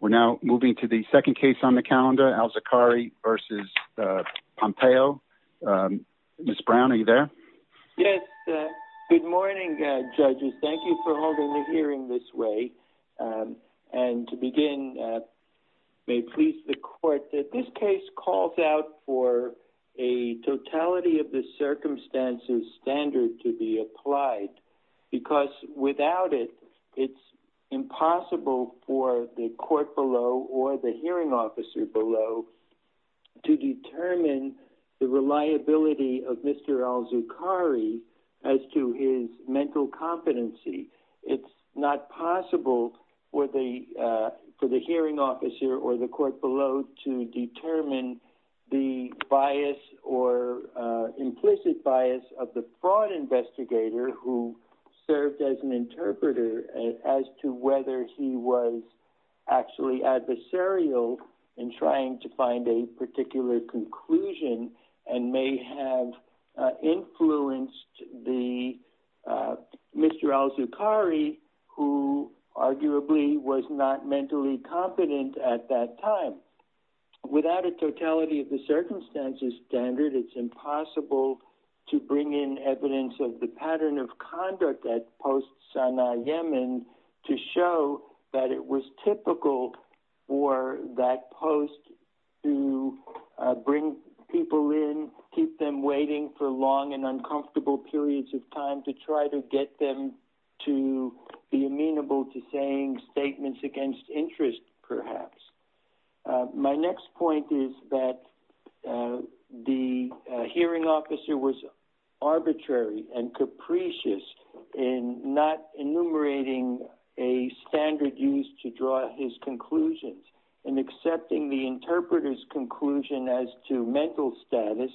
We're now moving to the second case on the calendar, Alzokari v. Pompeo. Ms. Brown, are you there? Yes, good morning, judges. Thank you for holding the hearing this way. And to begin, may it please the court that this case calls out for a totality of the circumstances standard to be applied, because without it, it's impossible for the court below or the hearing officer below to determine the reliability of Mr. Alzokari as to his mental competency. It's not possible for the for the hearing officer or the court below to determine the bias or implicit bias of the fraud investigator who served as an interpreter as to whether he was actually adversarial in trying to find a particular conclusion and may have influenced the Mr. Alzokari who arguably was not mentally competent at that time. Without a totality of the circumstances standard, it's impossible to bring in evidence of the pattern of conduct that posts on Yemen to show that it was typical for that post to bring people in, keep them waiting for long and uncomfortable periods of time to try to get them to be amenable to saying statements against interest, perhaps. My next point is that the hearing officer was arbitrary and capricious in not enumerating a standard used to draw his conclusions and accepting the interpreter's conclusion as to mental status,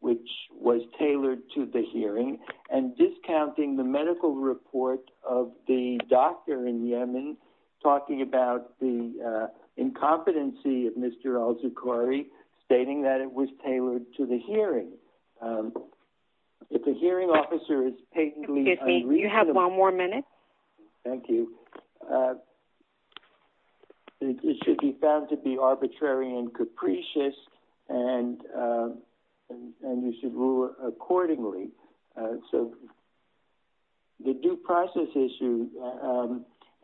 which was tailored to the hearing and discounting the medical report of the doctor in Yemen talking about the Incompetency of Mr. Alzokari stating that it was tailored to the hearing. If the hearing officer is patently unreasonable... You have one more minute. Thank you. It should be found to be arbitrary and capricious and and you should rule accordingly. So the due process issue,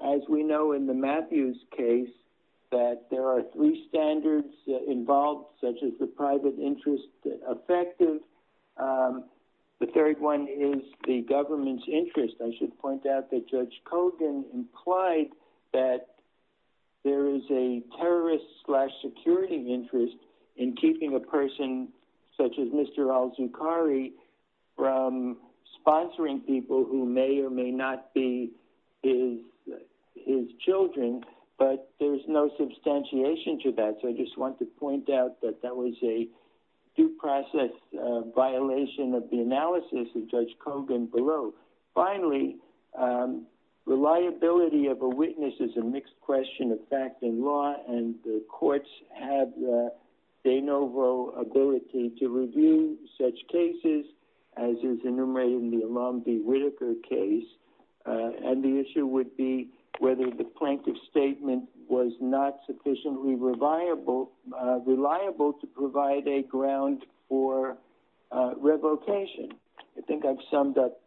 as we know in the Matthews case, that there are three standards involved such as the private interest effective. The third one is the government's interest. I should point out that Judge Kogan implied that there is a terrorist slash security interest in keeping a person such as Mr. Alzokari from his children, but there's no substantiation to that. So I just want to point out that that was a due process violation of the analysis of Judge Kogan below. Finally, reliability of a witness is a mixed question of fact and law and the courts have de novo ability to review such cases as is enumerated in the Alam V. Whitaker case and the issue would be whether the plaintiff's statement was not sufficiently reliable to provide a ground for revocation. I think I've summed up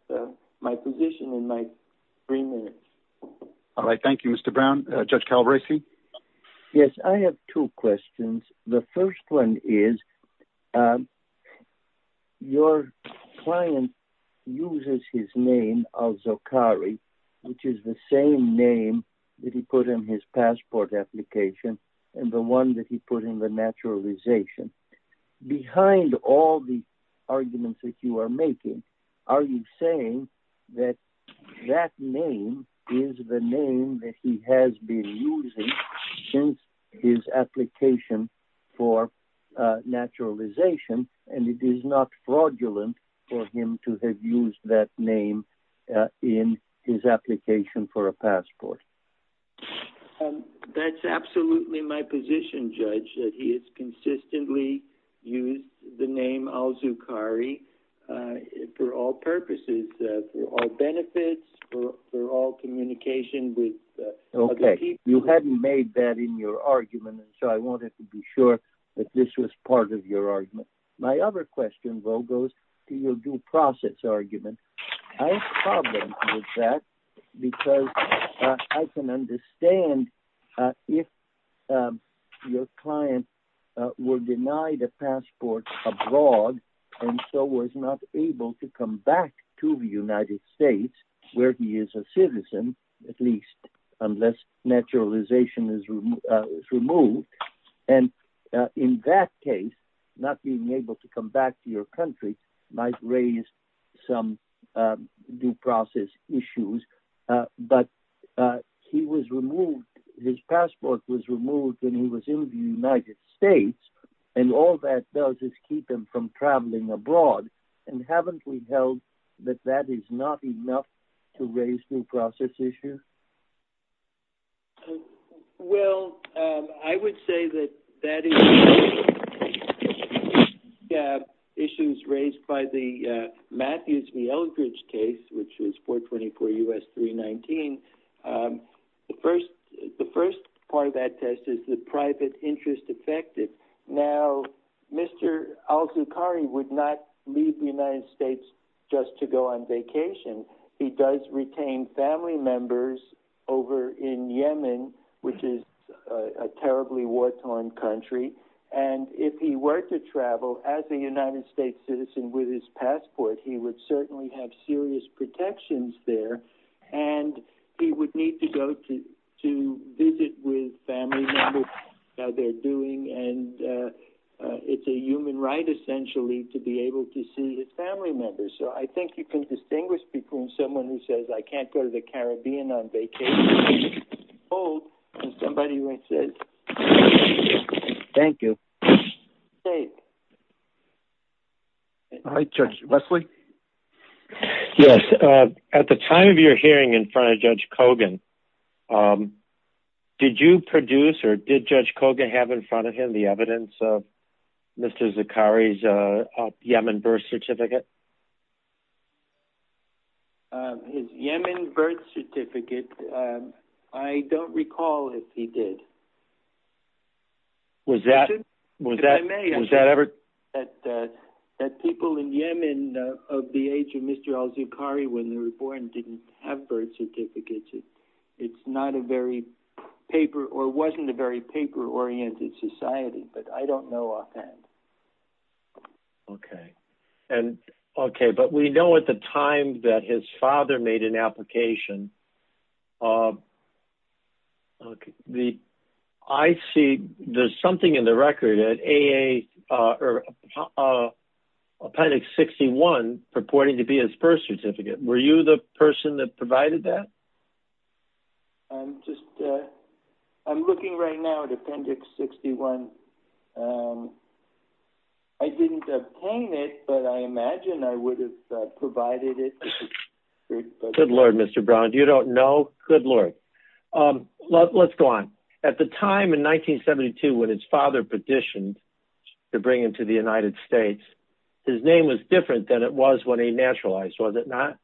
my position in my three minutes. All right. Thank you, Mr. Brown. Judge Kalbraisi? Yes, I have two questions. The first one is your client uses his name, Alzokari, which is the same name that he put in his passport application and the one that he put in the naturalization. Behind all the arguments that you are making, are you saying that that name is the name that he has been using since his application for naturalization and it is not fraudulent for him to have used that name in his application for a passport? That's absolutely my position, Judge, that he has consistently used the name Alzokari for all purposes, for all benefits, for all communication with other people. Okay, you hadn't made that in your argument, so I wanted to be sure that this was part of your argument. My other question, though, goes to your due process argument. I have a problem with that because I can understand if your client was denied a passport abroad and so was not able to come back to the United States where he is a citizen, at least unless naturalization is removed and in that case, not being able to come back to your country might raise some due process issues. But he was removed, his passport was removed when he was in the United States and all that does is keep him from to raise due process issues. Well, I would say that that is issues raised by the Matthews v. Eldridge case, which was 424 U.S. 319. The first part of that test is the private interest affected. Now, Mr. Al-Zoukhari would not leave the United States just to go on vacation. He does retain family members over in Yemen, which is a terribly war-torn country, and if he were to travel as a United States citizen with his passport, he would certainly have serious protections there and he would need to go to visit with family members, how they're doing, and it's a human right, essentially, to be able to see his family members. So I think you can distinguish between someone who says, I can't go to the Caribbean on vacation, and somebody who says, Thank you. All right, Judge Westley. Yes, at the time of your hearing in front of Judge Kogan, did you produce or did Judge Kogan have in front of him the evidence of Mr. Al-Zoukhari's Yemen birth certificate? His Yemen birth certificate, I don't recall if he did. Was that ever? That people in Yemen of the age of Mr. Al-Zoukhari, when they were born, didn't have birth certificates. It's not a very paper or wasn't a very paper-oriented society, but I don't know offhand. Okay, and okay, but we know at the time that his father made an application. I see there's something in the record at AA, or Appendix 61 purporting to be his birth certificate. Were you the person that provided that? I'm just, I'm looking right now at Appendix 61. I didn't obtain it, but I imagine I would have provided it. Good Lord, Mr. Brown. You don't know? Good Lord. Let's go on. At the time in 1972 when his father petitioned to bring him to the United States, his name was different than it was when he naturalized, was it not?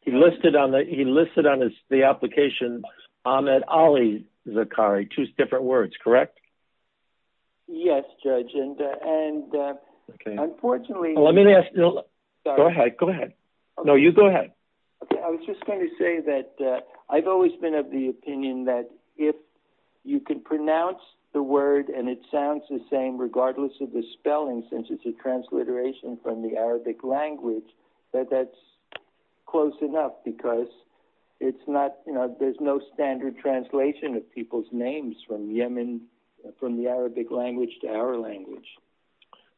He listed on the application Ahmed Ali Zoukhari, two different words, correct? Yes, Judge, and unfortunately... Let me ask you. Go ahead. Go ahead. No, you go ahead. Okay, I was just going to say that I've always been of the opinion that if you can pronounce the word and it sounds the same regardless of the spelling, since it's a transliteration from the Arabic language, that that's close enough because it's not, you know, there's no standard translation of people's names from Yemen, from the Arabic language to our language.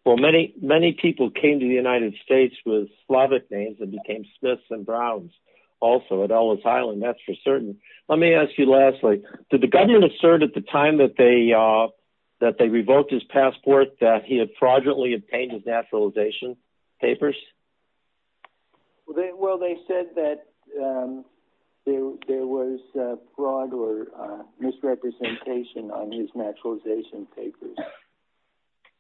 Well, many people came to the United States with Slavic names and became Smiths and Browns also at Ellis Island, that's for certain. Let me ask you lastly, did the government assert at the time that they revoked his passport that he had fraudulently obtained his naturalization papers? Well, they said that there was fraud or misrepresentation on his naturalization papers,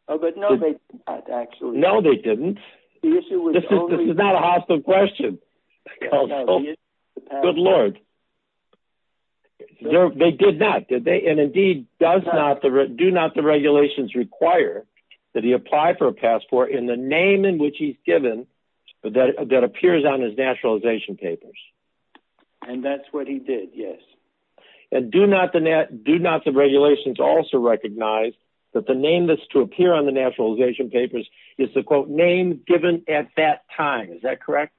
but no, they did not actually. No, they didn't. This is not a hostile question. Good Lord. They did not, did they? And indeed, do not the regulations require that he apply for a passport in the name in which he's given, but that appears on his naturalization papers. And that's what he did, yes. And do not the regulations also recognize that the name that's to appear on the naturalization papers is the, quote, name given at that time, is that correct?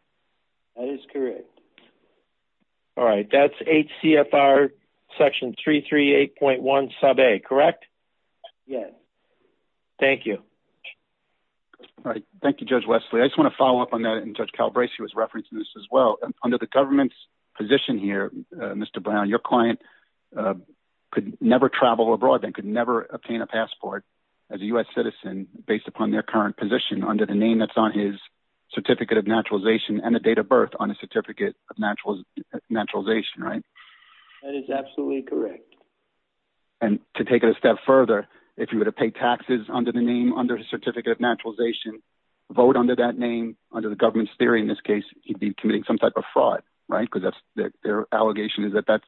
That is correct. All right, that's HCFR section 338.1 sub A, correct? Yes. Thank you. All right. Thank you, Judge Wesley. I just want to follow up on that and Judge Calabresi was referencing this as well. Under the government's position here, Mr. Brown, your client could never travel abroad and could never obtain a passport as a U.S. citizen based upon their current position under the name that's on his certificate of naturalization and the date of birth on a certificate of naturalization, right? That is absolutely correct. And to take it a step further, if you were to pay taxes under the name, under his certificate of naturalization, vote under that name, under the government's theory in this case, he'd be committing some type of fraud, right? Because that's their allegation is that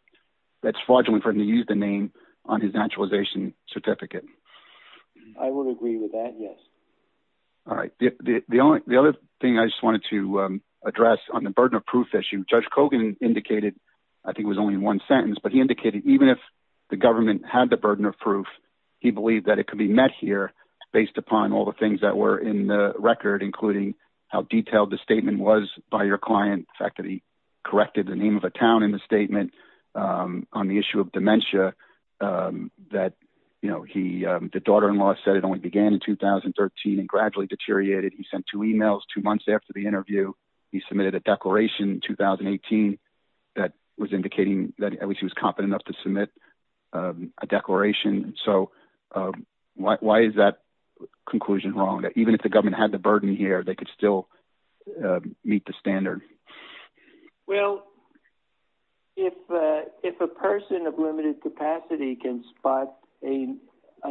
that's fraudulent for him to use the name on his naturalization certificate. I would agree with that, yes. All right. The only thing I just wanted to address on the burden of proof issue, Judge Kogan indicated, I think it was only one sentence, but he indicated even if the government had the burden of proof, he believed that it could be met here based upon all the things that were in the record, including how detailed the statement was by your client, the fact that he corrected the name of a town in the statement on the issue of dementia, that, you know, he, the daughter-in-law said it only began in 2013 and gradually deteriorated. He sent two emails two months after the interview. He submitted a declaration in 2018 that was indicating that at least he was competent enough to submit a declaration. So why is that conclusion wrong, that even if the government had the burden here, they could still meet the standard? Well, if a person of limited capacity can spot a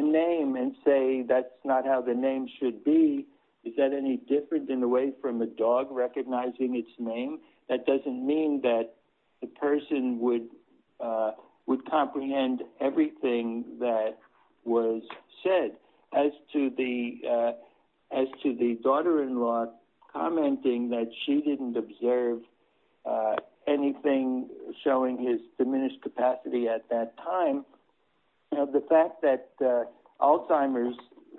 name and say that's not how the name should be, is that any different in the way from the dog recognizing its name? That doesn't mean that the person would would comprehend everything that was said. As to the, as to the daughter-in-law commenting that she didn't observe anything showing his diminished capacity at that time, you know, the fact that Alzheimer's,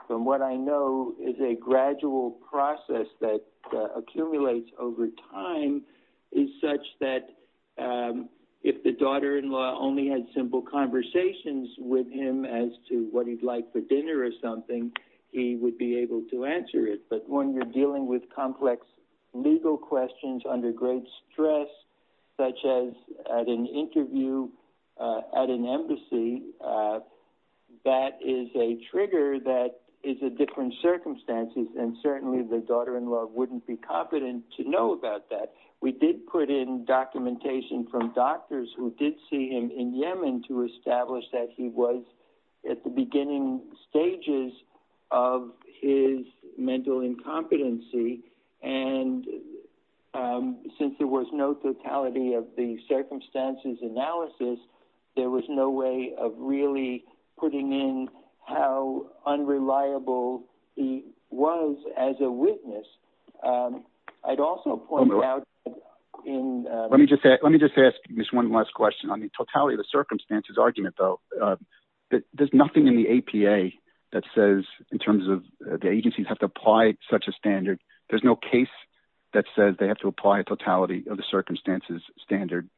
from what I know, is a gradual process that accumulates over time is such that if the daughter-in-law only had simple conversations with him as to what he'd like for dinner or something, he would be able to answer it. But when you're dealing with complex legal questions under great stress, such as at an interview, at an embassy, that is a trigger that is a different circumstance, and certainly the daughter-in-law wouldn't be competent to know about that. We did put in documentation from doctors who did see him in Yemen to establish that he was at the beginning stages of his mental incompetency, and since there was no totality of the really putting in how unreliable he was as a witness, I'd also point out in... Let me just say, let me just ask just one last question. On the totality of the circumstances argument, though, there's nothing in the APA that says, in terms of the agencies have to apply such a standard, there's no case that says they have to apply a totality of the circumstances standard,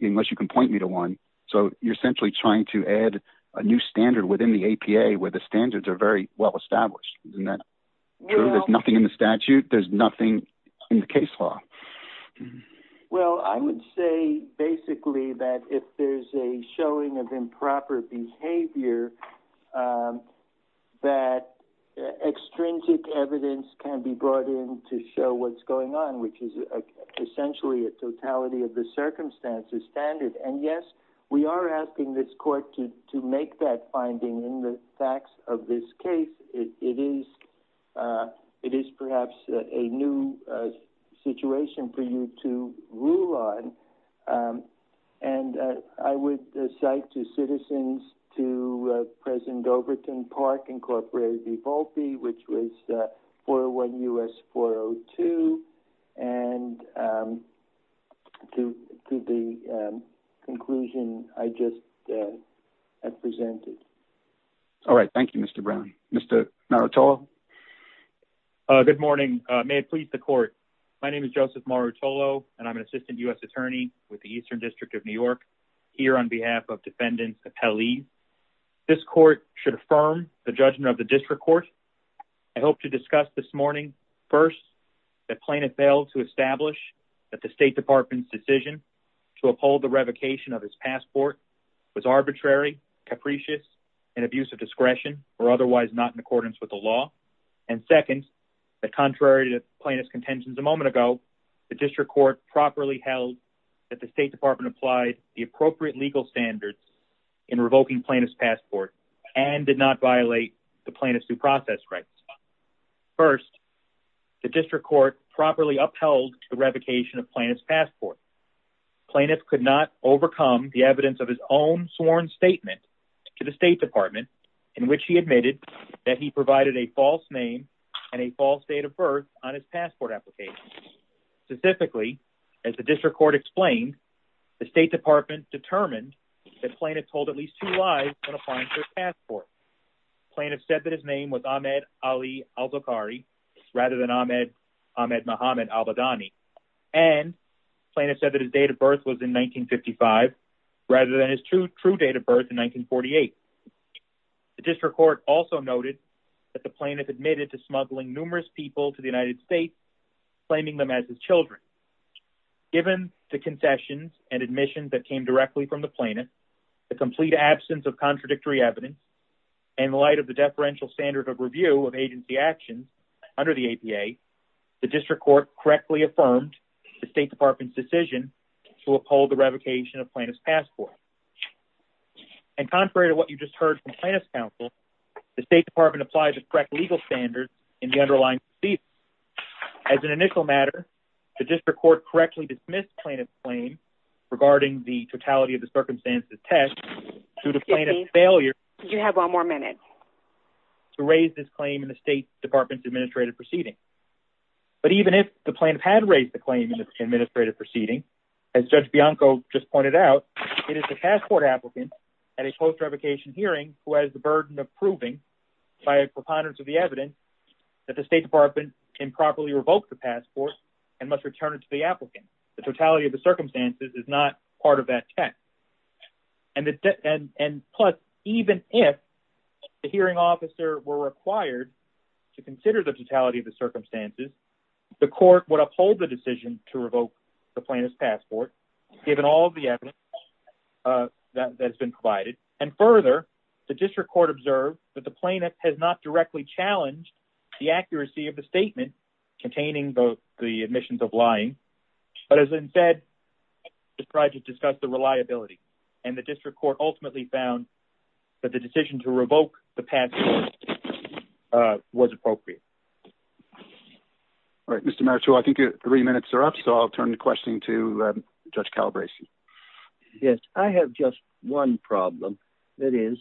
unless you can point me to one. So you're essentially trying to add a new standard within the APA where the standards are very well-established. Isn't that true? There's nothing in the statute. There's nothing in the case law. Well, I would say basically that if there's a showing of improper behavior that extrinsic evidence can be brought in to show what's going on, which is essentially a totality of the circumstances standard. And yes, we are asking this court to make that finding in the facts of this case. It is it is perhaps a new situation for you to rule on. And I would cite to citizens to President Overton Park, Incorporated, Evolpe, which was 401 U.S. 402, and to the conclusion I just presented. All right. Thank you, Mr. Brown. Mr. Marutolo. Good morning. May it please the court. My name is Joseph Marutolo, and I'm an assistant U.S. attorney with the Eastern District of New York here on behalf of Defendant Apellee. This court should affirm the judgment of the district court. I hope to discuss this morning, first, that plaintiff failed to establish that the State Department's decision to uphold the revocation of his passport was arbitrary, capricious, and abuse of discretion or otherwise not in accordance with the law. And second, that contrary to plaintiff's contentions a moment ago, the district court properly held that the State Department applied the appropriate legal standards in revoking plaintiff's passport and did not violate the plaintiff's due process rights. First, the district court properly upheld the revocation of plaintiff's passport. Plaintiff could not overcome the evidence of his own sworn statement to the State Department in which he admitted that he provided a false name and a false date of birth on his passport application. Specifically, as the district court explained, the State Department determined that plaintiff told at least two lies when applying for his passport. Plaintiff said that his name was Ahmed Ali Al-Zoukhari rather than Ahmed Mohamed Al-Badani, and plaintiff said that his date of birth was in 1955 rather than his true date of birth in 1948. The district court also noted that the plaintiff admitted to smuggling numerous people to the United States, claiming them as his children. Given the concessions and admissions that came directly from the plaintiff, the complete absence of contradictory evidence, and in light of the deferential standard of review of agency actions under the APA, the district court correctly affirmed the State Department's decision to uphold the revocation of plaintiff's passport. And contrary to what you just heard from plaintiff's counsel, the State Department applied the correct legal standards in the underlying procedure. As an initial matter, the district court correctly dismissed plaintiff's claim regarding the totality of the circumstances test due to plaintiff's failure to raise this claim in the State Department's administrative proceeding. But even if the plaintiff had raised the claim in the administrative proceeding, as Judge Bianco just pointed out, it is the passport applicant at a post-revocation hearing who has the burden of proving by a preponderance of the evidence that the State Department can properly revoke the passport and must return it to the applicant. The totality of the circumstances is not part of that test. And plus, even if the hearing officer were required to consider the totality of the circumstances, the court would uphold the decision to revoke the plaintiff's passport, given all of the evidence that has been provided. And further, the district court observed that the plaintiff has not directly challenged the accuracy of the statement containing the admissions of lying, but has instead tried to discuss the reliability. And the district court ultimately found that the decision to revoke the passport was appropriate. All right, Mr. Marichoux, I think three minutes are up, so I'll turn the question to Judge Calabresi. Yes, I have just one problem. That is,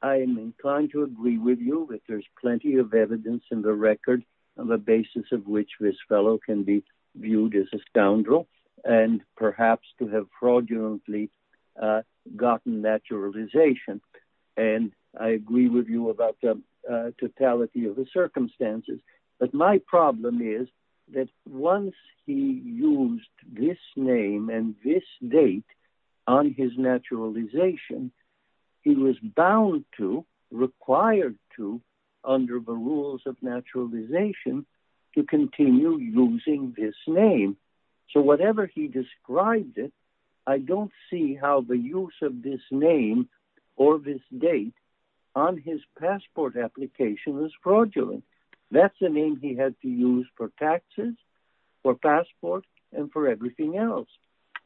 I am inclined to agree with you that there's plenty of evidence in the record on the basis of which this fellow can be viewed as a scoundrel and perhaps to have fraudulently gotten naturalization. And I agree with you about the totality of the circumstances. But my problem is that once he used this name and this date on his naturalization, he was bound to, required to, under the rules of naturalization, to continue using this name. So whatever he described it, I don't see how the use of this name or this date on his passport application is fraudulent. That's the name he had to use for taxes, for passport, and for everything else.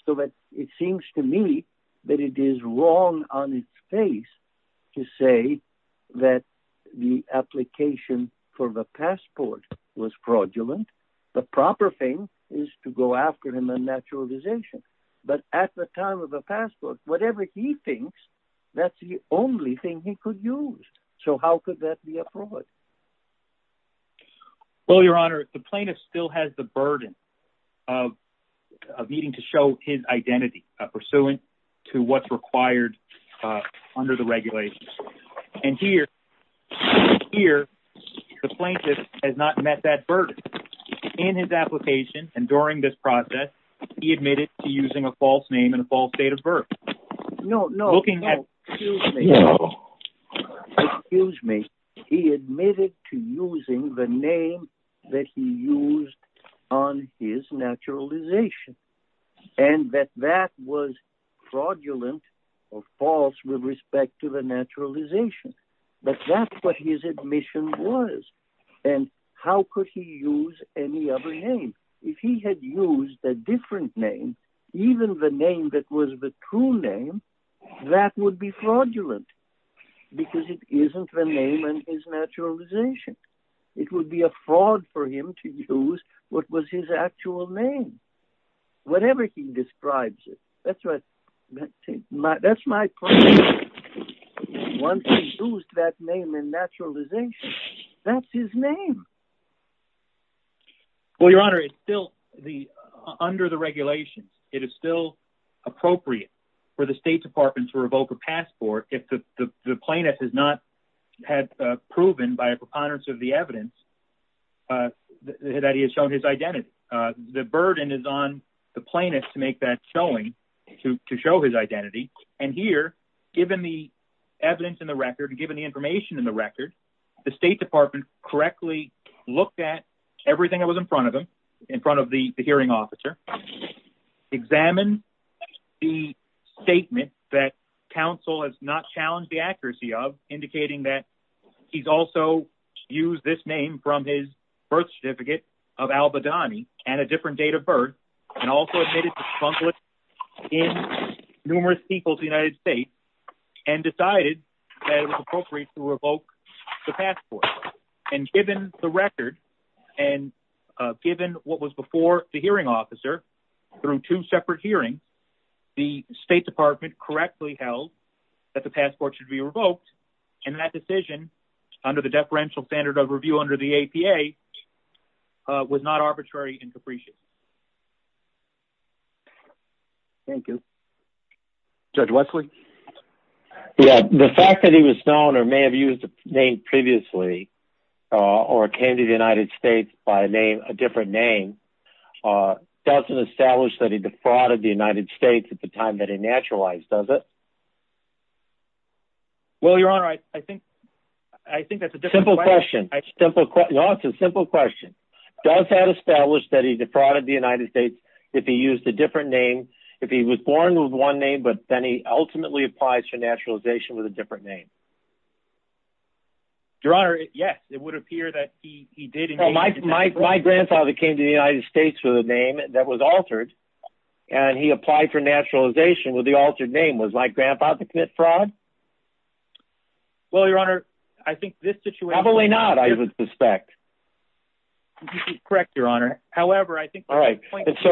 So it seems to me that it is wrong on its face to say that the application for the passport was fraudulent. The proper thing is to go after him on naturalization. But at the time of the passport, whatever he thinks, that's the only thing he could use. So how could that be a fraud? Well, Your Honor, the plaintiff still has the burden of needing to show his identity pursuant to what's required under the regulations. And here, the plaintiff has not met that burden in his application. And during this process, he admitted to using a false name and a false date of birth. No, no, excuse me. He admitted to using the name that he used on his naturalization, and that that was fraudulent or false with respect to the naturalization. But that's what his admission was. And how could he use any other name? If he had used a different name, even the name that was the true name, that would be fraudulent, because it isn't the name on his naturalization. It would be a fraud for him to use what was his actual name, whatever he describes it. That's what that's my point. Once he used that name in naturalization, that's his name. Well, Your Honor, it's still under the regulations. It is still appropriate for the State Department to revoke a passport if the plaintiff has not had proven by a preponderance of the evidence that he has shown his identity. The burden is on the plaintiff to make that showing, to show his identity. And here, given the evidence in the record, given the information in the record, the State Department correctly looked at everything that was in front of him, in front of the hearing officer, examined the statement that counsel has not challenged the accuracy of, indicating that he's also used this name from his birth certificate of Al-Badani and a different date of birth, and also admitted to trunculate in numerous peoples of the United States, and decided that it was appropriate to revoke the passport. And given the record, and given what was before the hearing officer, through two separate hearings, the State Department correctly held that the passport should be revoked. And that decision, under the deferential standard of review under the APA, was not arbitrary and capricious. Thank you. Judge Wesley? Yeah, the fact that he was known or may have used a name previously, or came to the United States by a name, a different name, doesn't establish that he defrauded the United States at the time that he naturalized, does it? Well, Your Honor, I think that's a different question. Simple question. Your Honor, it's a simple question. Does that establish that he defrauded the United States if he used a different name, if he was born with one name, but then he ultimately applies for naturalization with a different name? Your Honor, yes, it would appear that he did. Well, my grandfather came to the United States with a name that was altered, and he applied for naturalization with the altered name. Was my grandfather commit fraud? Well, Your Honor, I think this situation... Probably not, I would suspect. Correct, Your Honor. However, I think... When he came to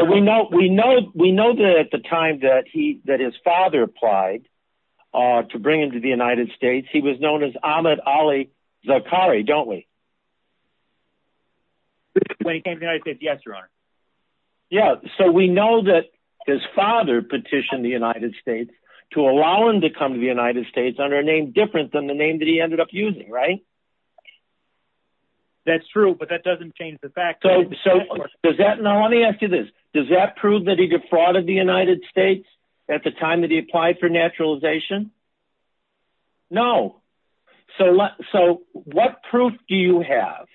the United States, yes, Your Honor. Yeah, so we know that his father petitioned the United States to allow him to come to the United States under a name different than the name that he ended up using, right? That's true, but that doesn't change the fact that... So, does that... Now, let me ask you this. Does that prove that he defrauded the United States at the time that he applied for naturalization? No. So, what proof do you have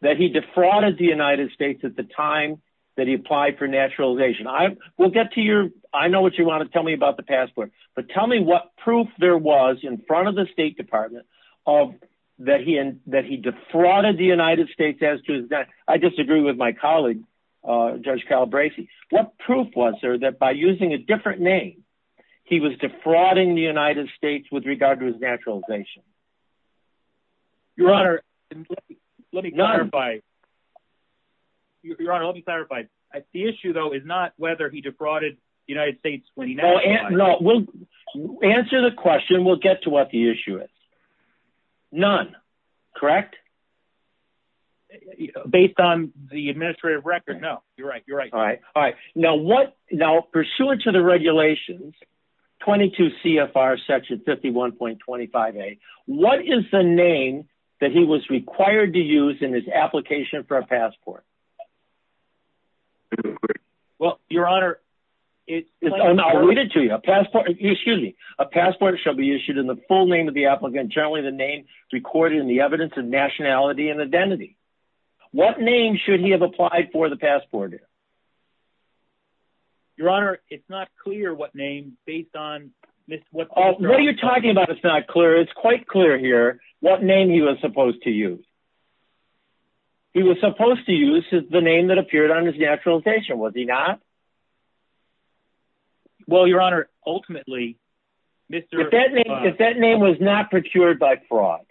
that he defrauded the United States at the time that he applied for naturalization? We'll get to your... I know what you want to tell me about the passport, but tell me what proof there was in front of the State Department that he defrauded the United States as to his... Your Honor, let me clarify. None. Your Honor, let me clarify. The issue, though, is not whether he defrauded the United States when he nationalized. No, we'll answer the question. We'll get to what the issue is. None, correct? Based on the administrative record, no. You're right, you're right. All right, all right. Now, what... Now, pursuant to the regulations, 22 CFR section 51.25a, what is the name that he was required to use in his application for a passport? Well, Your Honor, it... I'll read it to you. A passport... Excuse me. A passport shall be issued in the full name of the applicant, generally the name recorded in the evidence of nationality and identity. What name should he have applied for the passport in? Your Honor, it's not clear what name, based on... Oh, what are you talking about it's not clear? It's quite clear here what name he was supposed to use. He was supposed to use the name that appeared on his naturalization, was he not? Well, Your Honor, ultimately, Mr. If that name was not procured by fraud,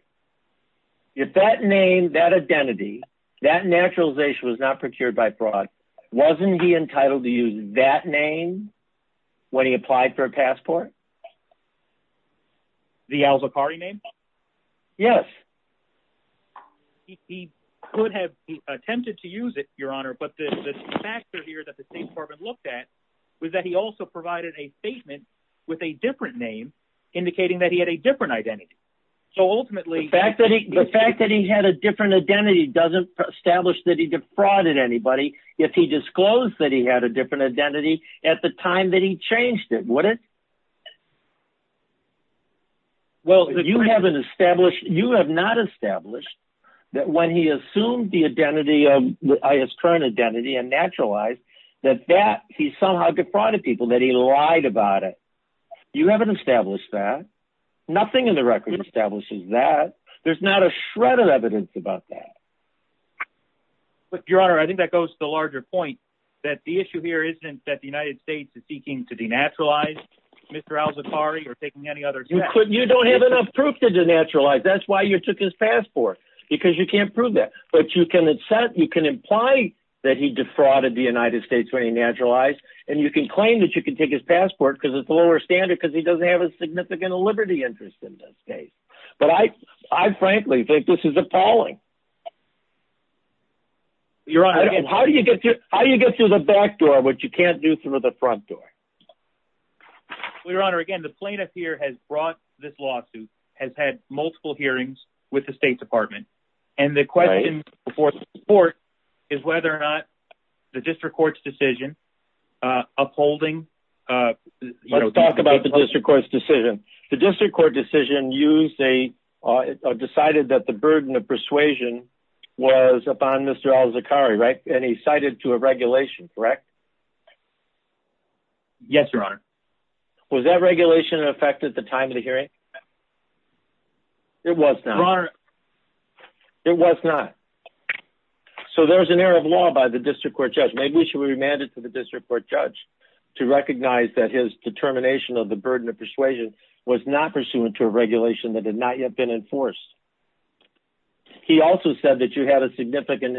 if that name, that identity, that naturalization was not procured by fraud, wasn't he entitled to use that name when he applied for a passport? The Al-Zaqqari name? Yes. He could have attempted to use it, Your Honor, but the factor here that the State Department looked at was that he also provided a statement with a different name, indicating that he had a different identity. So ultimately... The fact that he had a different identity doesn't establish that he defrauded anybody, if he disclosed that he had a different identity at the time that he changed it, would it? Well, you haven't established, you have not established that when he assumed the identity of, his current identity and naturalized, that that he somehow defrauded people, that he lied about it. You haven't established that. Nothing in the record establishes that. There's not a shred of evidence about that. But, Your Honor, I think that goes to a larger point, that the issue here isn't that the United States is seeking to denaturalize Mr. Al-Zaqqari or taking any other... You don't have enough proof to denaturalize, that's why you took his passport, because you can't prove that. But you can imply that he defrauded the United States when he naturalized, and you can claim that you can take his passport because it's the lower standard because he doesn't have a significant liberty interest in this case. But I frankly think this is appalling. Your Honor, I don't... How do you get through the back door, which you can't do through the front door? Well, Your Honor, again, the plaintiff here has brought this lawsuit, has had multiple hearings with the State Department, and the question before the court is whether or not the District Court's decision upholding... Let's talk about the District Court's decision. The District Court decision decided that the burden of persuasion was upon Mr. Al-Zaqqari, and he cited to a regulation, correct? Yes, Your Honor. Was that regulation in effect at the time of the hearing? It was not. Your Honor... It was not. So there's an error of law by the District Court judge. Maybe we should remand it to the District Court judge to recognize that his determination of the burden of persuasion was not pursuant to a regulation that had not yet been enforced. He also said that you had a significant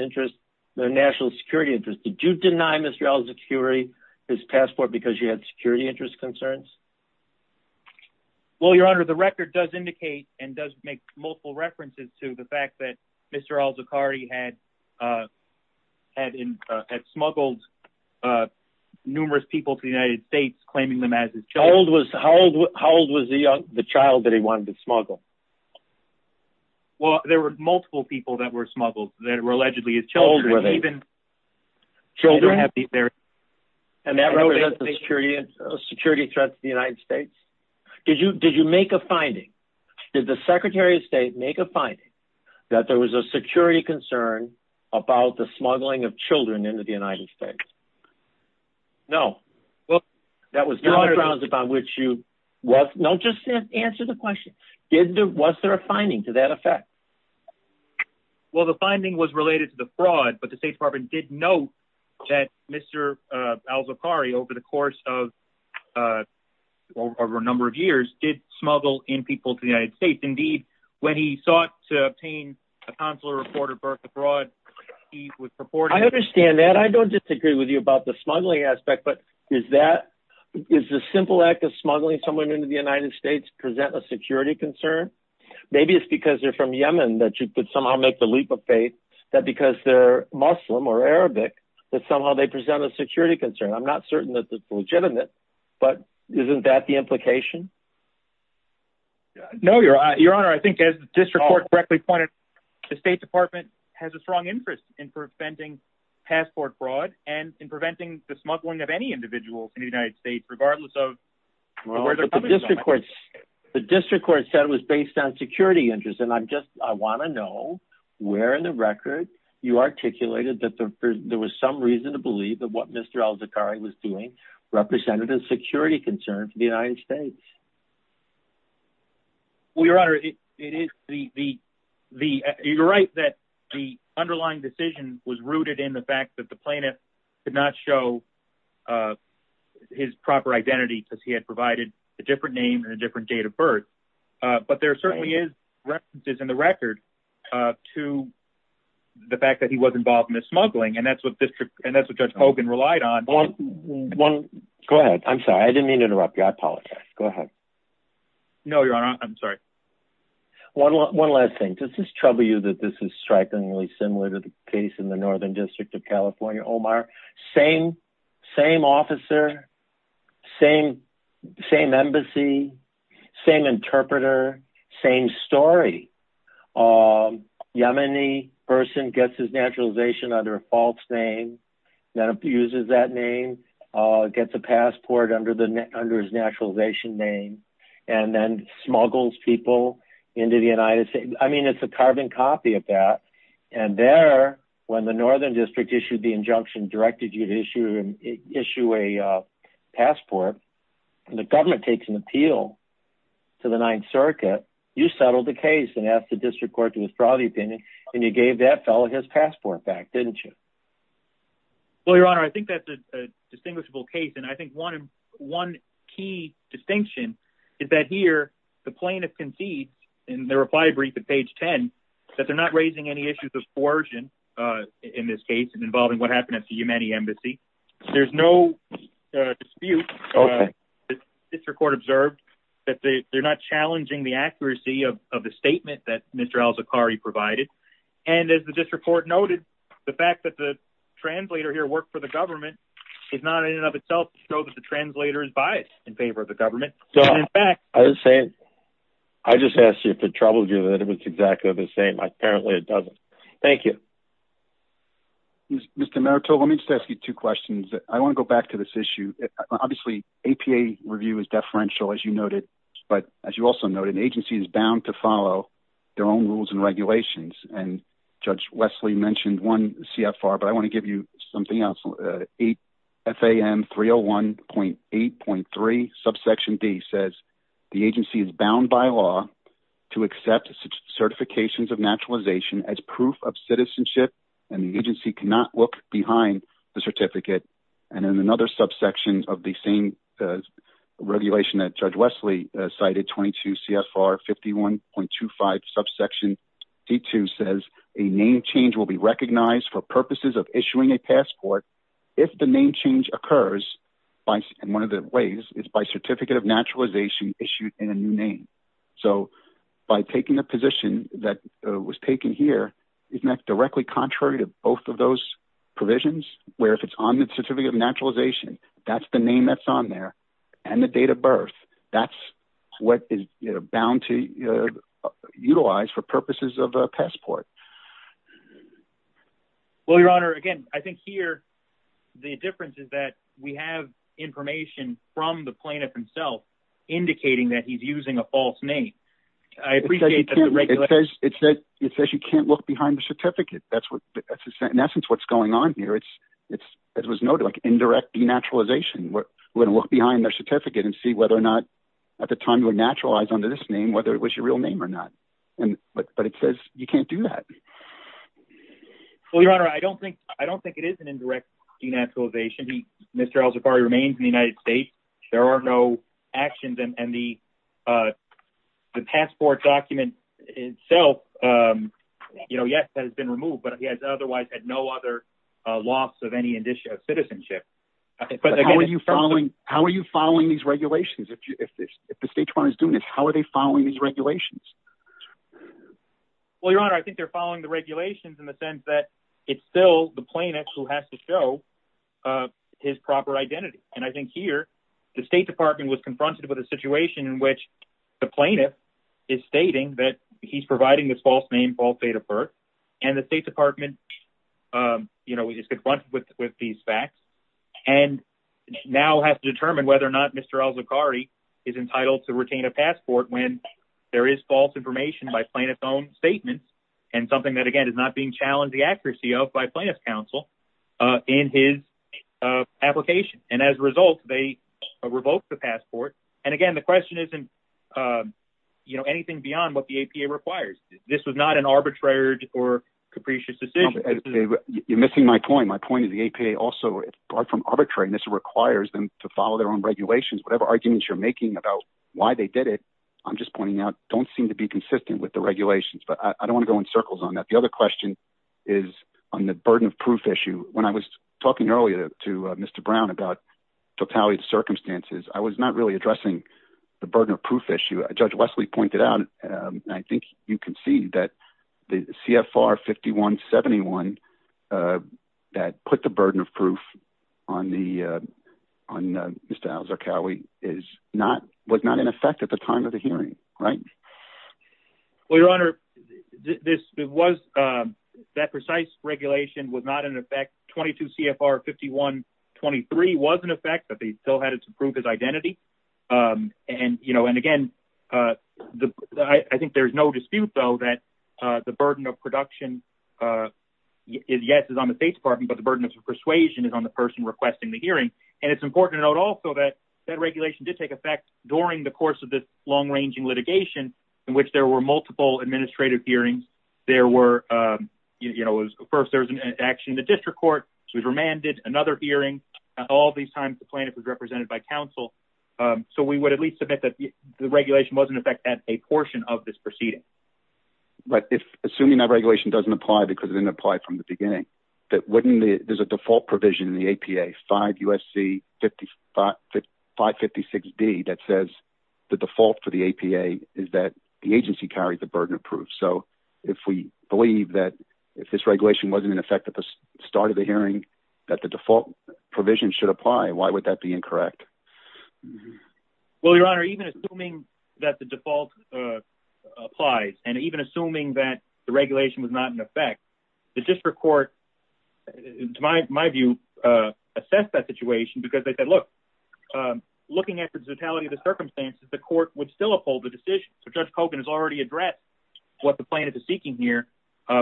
national security interest. Did you deny Mr. Al-Zaqqari his passport because you had security interest concerns? Well, Your Honor, the record does indicate and does make multiple references to the fact that Mr. Al-Zaqqari had smuggled numerous people to the United States, claiming them as his children. How old was the child that he wanted to smuggle? Well, there were multiple people that were smuggled that were allegedly his children. How old were they? Children? And that was a security threat to the United States? Did you make a finding? Did the Secretary of State make a finding that there was a security concern about the smuggling of children into the United States? No. That was not grounds upon which you... Don't just answer the question. Was there a finding to that effect? Well, the finding was related to the fraud, but the State Department did note that Mr. Al-Zaqqari, over the course of a number of years, did smuggle in people to the United States. Indeed, when he sought to obtain a consular report of birth abroad, he was purported... I understand that. I don't disagree with you about the smuggling aspect, but is the simple act of smuggling someone into the United States present a security concern? Maybe it's because they're from Yemen that you could somehow make the leap of faith that because they're Muslim or Arabic that somehow they present a security concern. I'm not certain that this is legitimate, but isn't that the implication? No, Your Honor. I think as the District Court correctly pointed, the State Department has a strong interest in preventing passport fraud and in preventing the smuggling of any individual in the United States, regardless of where they're coming from. The District Court said it was based on security interests, and I want to know where in the record you articulated that there was some reason to believe that what Mr. Al-Zaqqari was doing represented a security concern for the United States. Well, Your Honor, you're right that the underlying decision was rooted in the fact that the plaintiff did not show his proper identity because he had provided a different name and a different date of birth. But there certainly is references in the record to the fact that he was involved in the smuggling, and that's what Judge Hogan relied on. Go ahead. I'm sorry. I didn't mean to interrupt you. I apologize. Go ahead. No, Your Honor. I'm sorry. One last thing. Does this trouble you that this is strikingly similar to the case in the Northern District of California, Omar? Same officer, same embassy, same interpreter, same story. A Yemeni person gets his naturalization under a false name, then abuses that name, gets a passport under his naturalization name, and then smuggles people into the United States. I mean, it's a carbon copy of that. And there, when the Northern District issued the injunction, directed you to issue a passport, the government takes an appeal to the Ninth Circuit. You settled the case and asked the District Court to withdraw the opinion, and you gave that fellow his passport back, didn't you? Well, Your Honor, I think that's a distinguishable case, and I think one key distinction is that here, the plaintiff conceded in the reply brief at page 10 that they're not raising any issues of coercion in this case involving what happened at the Yemeni embassy. There's no dispute. The District Court observed that they're not challenging the accuracy of the statement that Mr. al-Zaqqari provided. And as the District Court noted, the fact that the translator here worked for the government is not in and of itself to show that the translator is biased in favor of the government. I just asked you if it troubled you that it was exactly the same. Apparently, it doesn't. Thank you. Mr. Merito, let me just ask you two questions. I want to go back to this issue. Obviously, APA review is deferential, as you noted. But as you also noted, an agency is bound to follow their own rules and regulations. And Judge Wesley mentioned one CFR, but I want to give you something else. FAM 301.8.3, subsection D says, the agency is bound by law to accept certifications of naturalization as proof of citizenship, and the agency cannot look behind the certificate. And in another subsection of the same regulation that Judge Wesley cited, 22 CFR 51.25, subsection D2 says, a name change will be recognized for purposes of issuing a passport if the name change occurs in one of the ways is by certificate of naturalization issued in a new name. So by taking a position that was taken here, isn't that directly contrary to both of those provisions, where if it's on the certificate of naturalization, that's the name that's on there, and the date of birth, that's what is bound to utilize for purposes of a passport? Well, Your Honor, again, I think here the difference is that we have information from the plaintiff himself indicating that he's using a false name. It says you can't look behind the certificate. That's in essence what's going on here. It was noted like indirect denaturalization. We're going to look behind their certificate and see whether or not at the time you were naturalized under this name, whether it was your real name or not. But it says you can't do that. Well, Your Honor, I don't think it is an indirect denaturalization. Mr. Al Zafari remains in the United States. There are no actions, and the passport document itself, yes, has been removed, but he has otherwise had no other loss of any citizenship. How are you following these regulations? If the State Department is doing this, how are they following these regulations? Well, Your Honor, I think they're following the regulations in the sense that it's still the plaintiff who has to show his proper identity. And I think here the State Department was confronted with a situation in which the plaintiff is stating that he's providing this false name, false date of birth, and the State Department is confronted with these facts, and now has to determine whether or not Mr. Al Zafari is entitled to retain a passport when there is false information by plaintiff's own statements and something that, again, is not being challenged the accuracy of by plaintiff's counsel in his application. And as a result, they revoked the passport. And again, the question isn't anything beyond what the APA requires. This was not an arbitrary or capricious decision. You're missing my point. My point is the APA also, apart from arbitrariness, requires them to follow their own regulations. Whatever arguments you're making about why they did it, I'm just pointing out, don't seem to be consistent with the regulations. But I don't want to go in circles on that. The other question is on the burden of proof issue. When I was talking earlier to Mr. Brown about totality of the circumstances, I was not really addressing the burden of proof issue. As Judge Wesley pointed out, I think you can see that the CFR 5171 that put the burden of proof on Mr. Al Zarqawi was not in effect at the time of the hearing, right? Well, Your Honor, that precise regulation was not in effect. 22 CFR 5123 was in effect, but they still had it to prove his identity. And again, I think there's no dispute, though, that the burden of production, yes, is on the State Department, but the burden of persuasion is on the person requesting the hearing. And it's important to note also that that regulation did take effect during the course of this long-ranging litigation in which there were multiple administrative hearings. First, there was an action in the district court. It was remanded, another hearing. All these times, the plaintiff was represented by counsel. So we would at least submit that the regulation was in effect at a portion of this proceeding. But assuming that regulation doesn't apply because it didn't apply from the beginning, there's a default provision in the APA, 5 U.S.C. 556B, that says the default for the APA is that the agency carries the burden of proof. So if we believe that if this regulation wasn't in effect at the start of the hearing, that the default provision should apply, why would that be incorrect? Well, Your Honor, even assuming that the default applies and even assuming that the regulation was not in effect, the district court, in my view, assessed that situation because they said, look, looking at the totality of the circumstances, the court would still uphold the decision. So Judge Kogan has already addressed what the plaintiff is seeking here,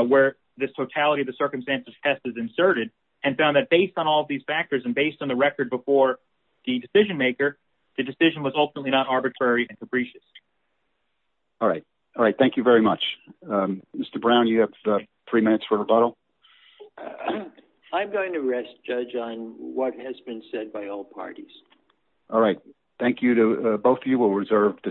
where this totality of the circumstances test is inserted and found that based on all these factors and based on the record before the decision maker, the decision was ultimately not arbitrary and capricious. All right. All right. Thank you very much. Mr. Brown, you have three minutes for rebuttal. I'm going to rest, Judge, on what has been said by all parties. All right. Thank you. Both of you will reserve the seat.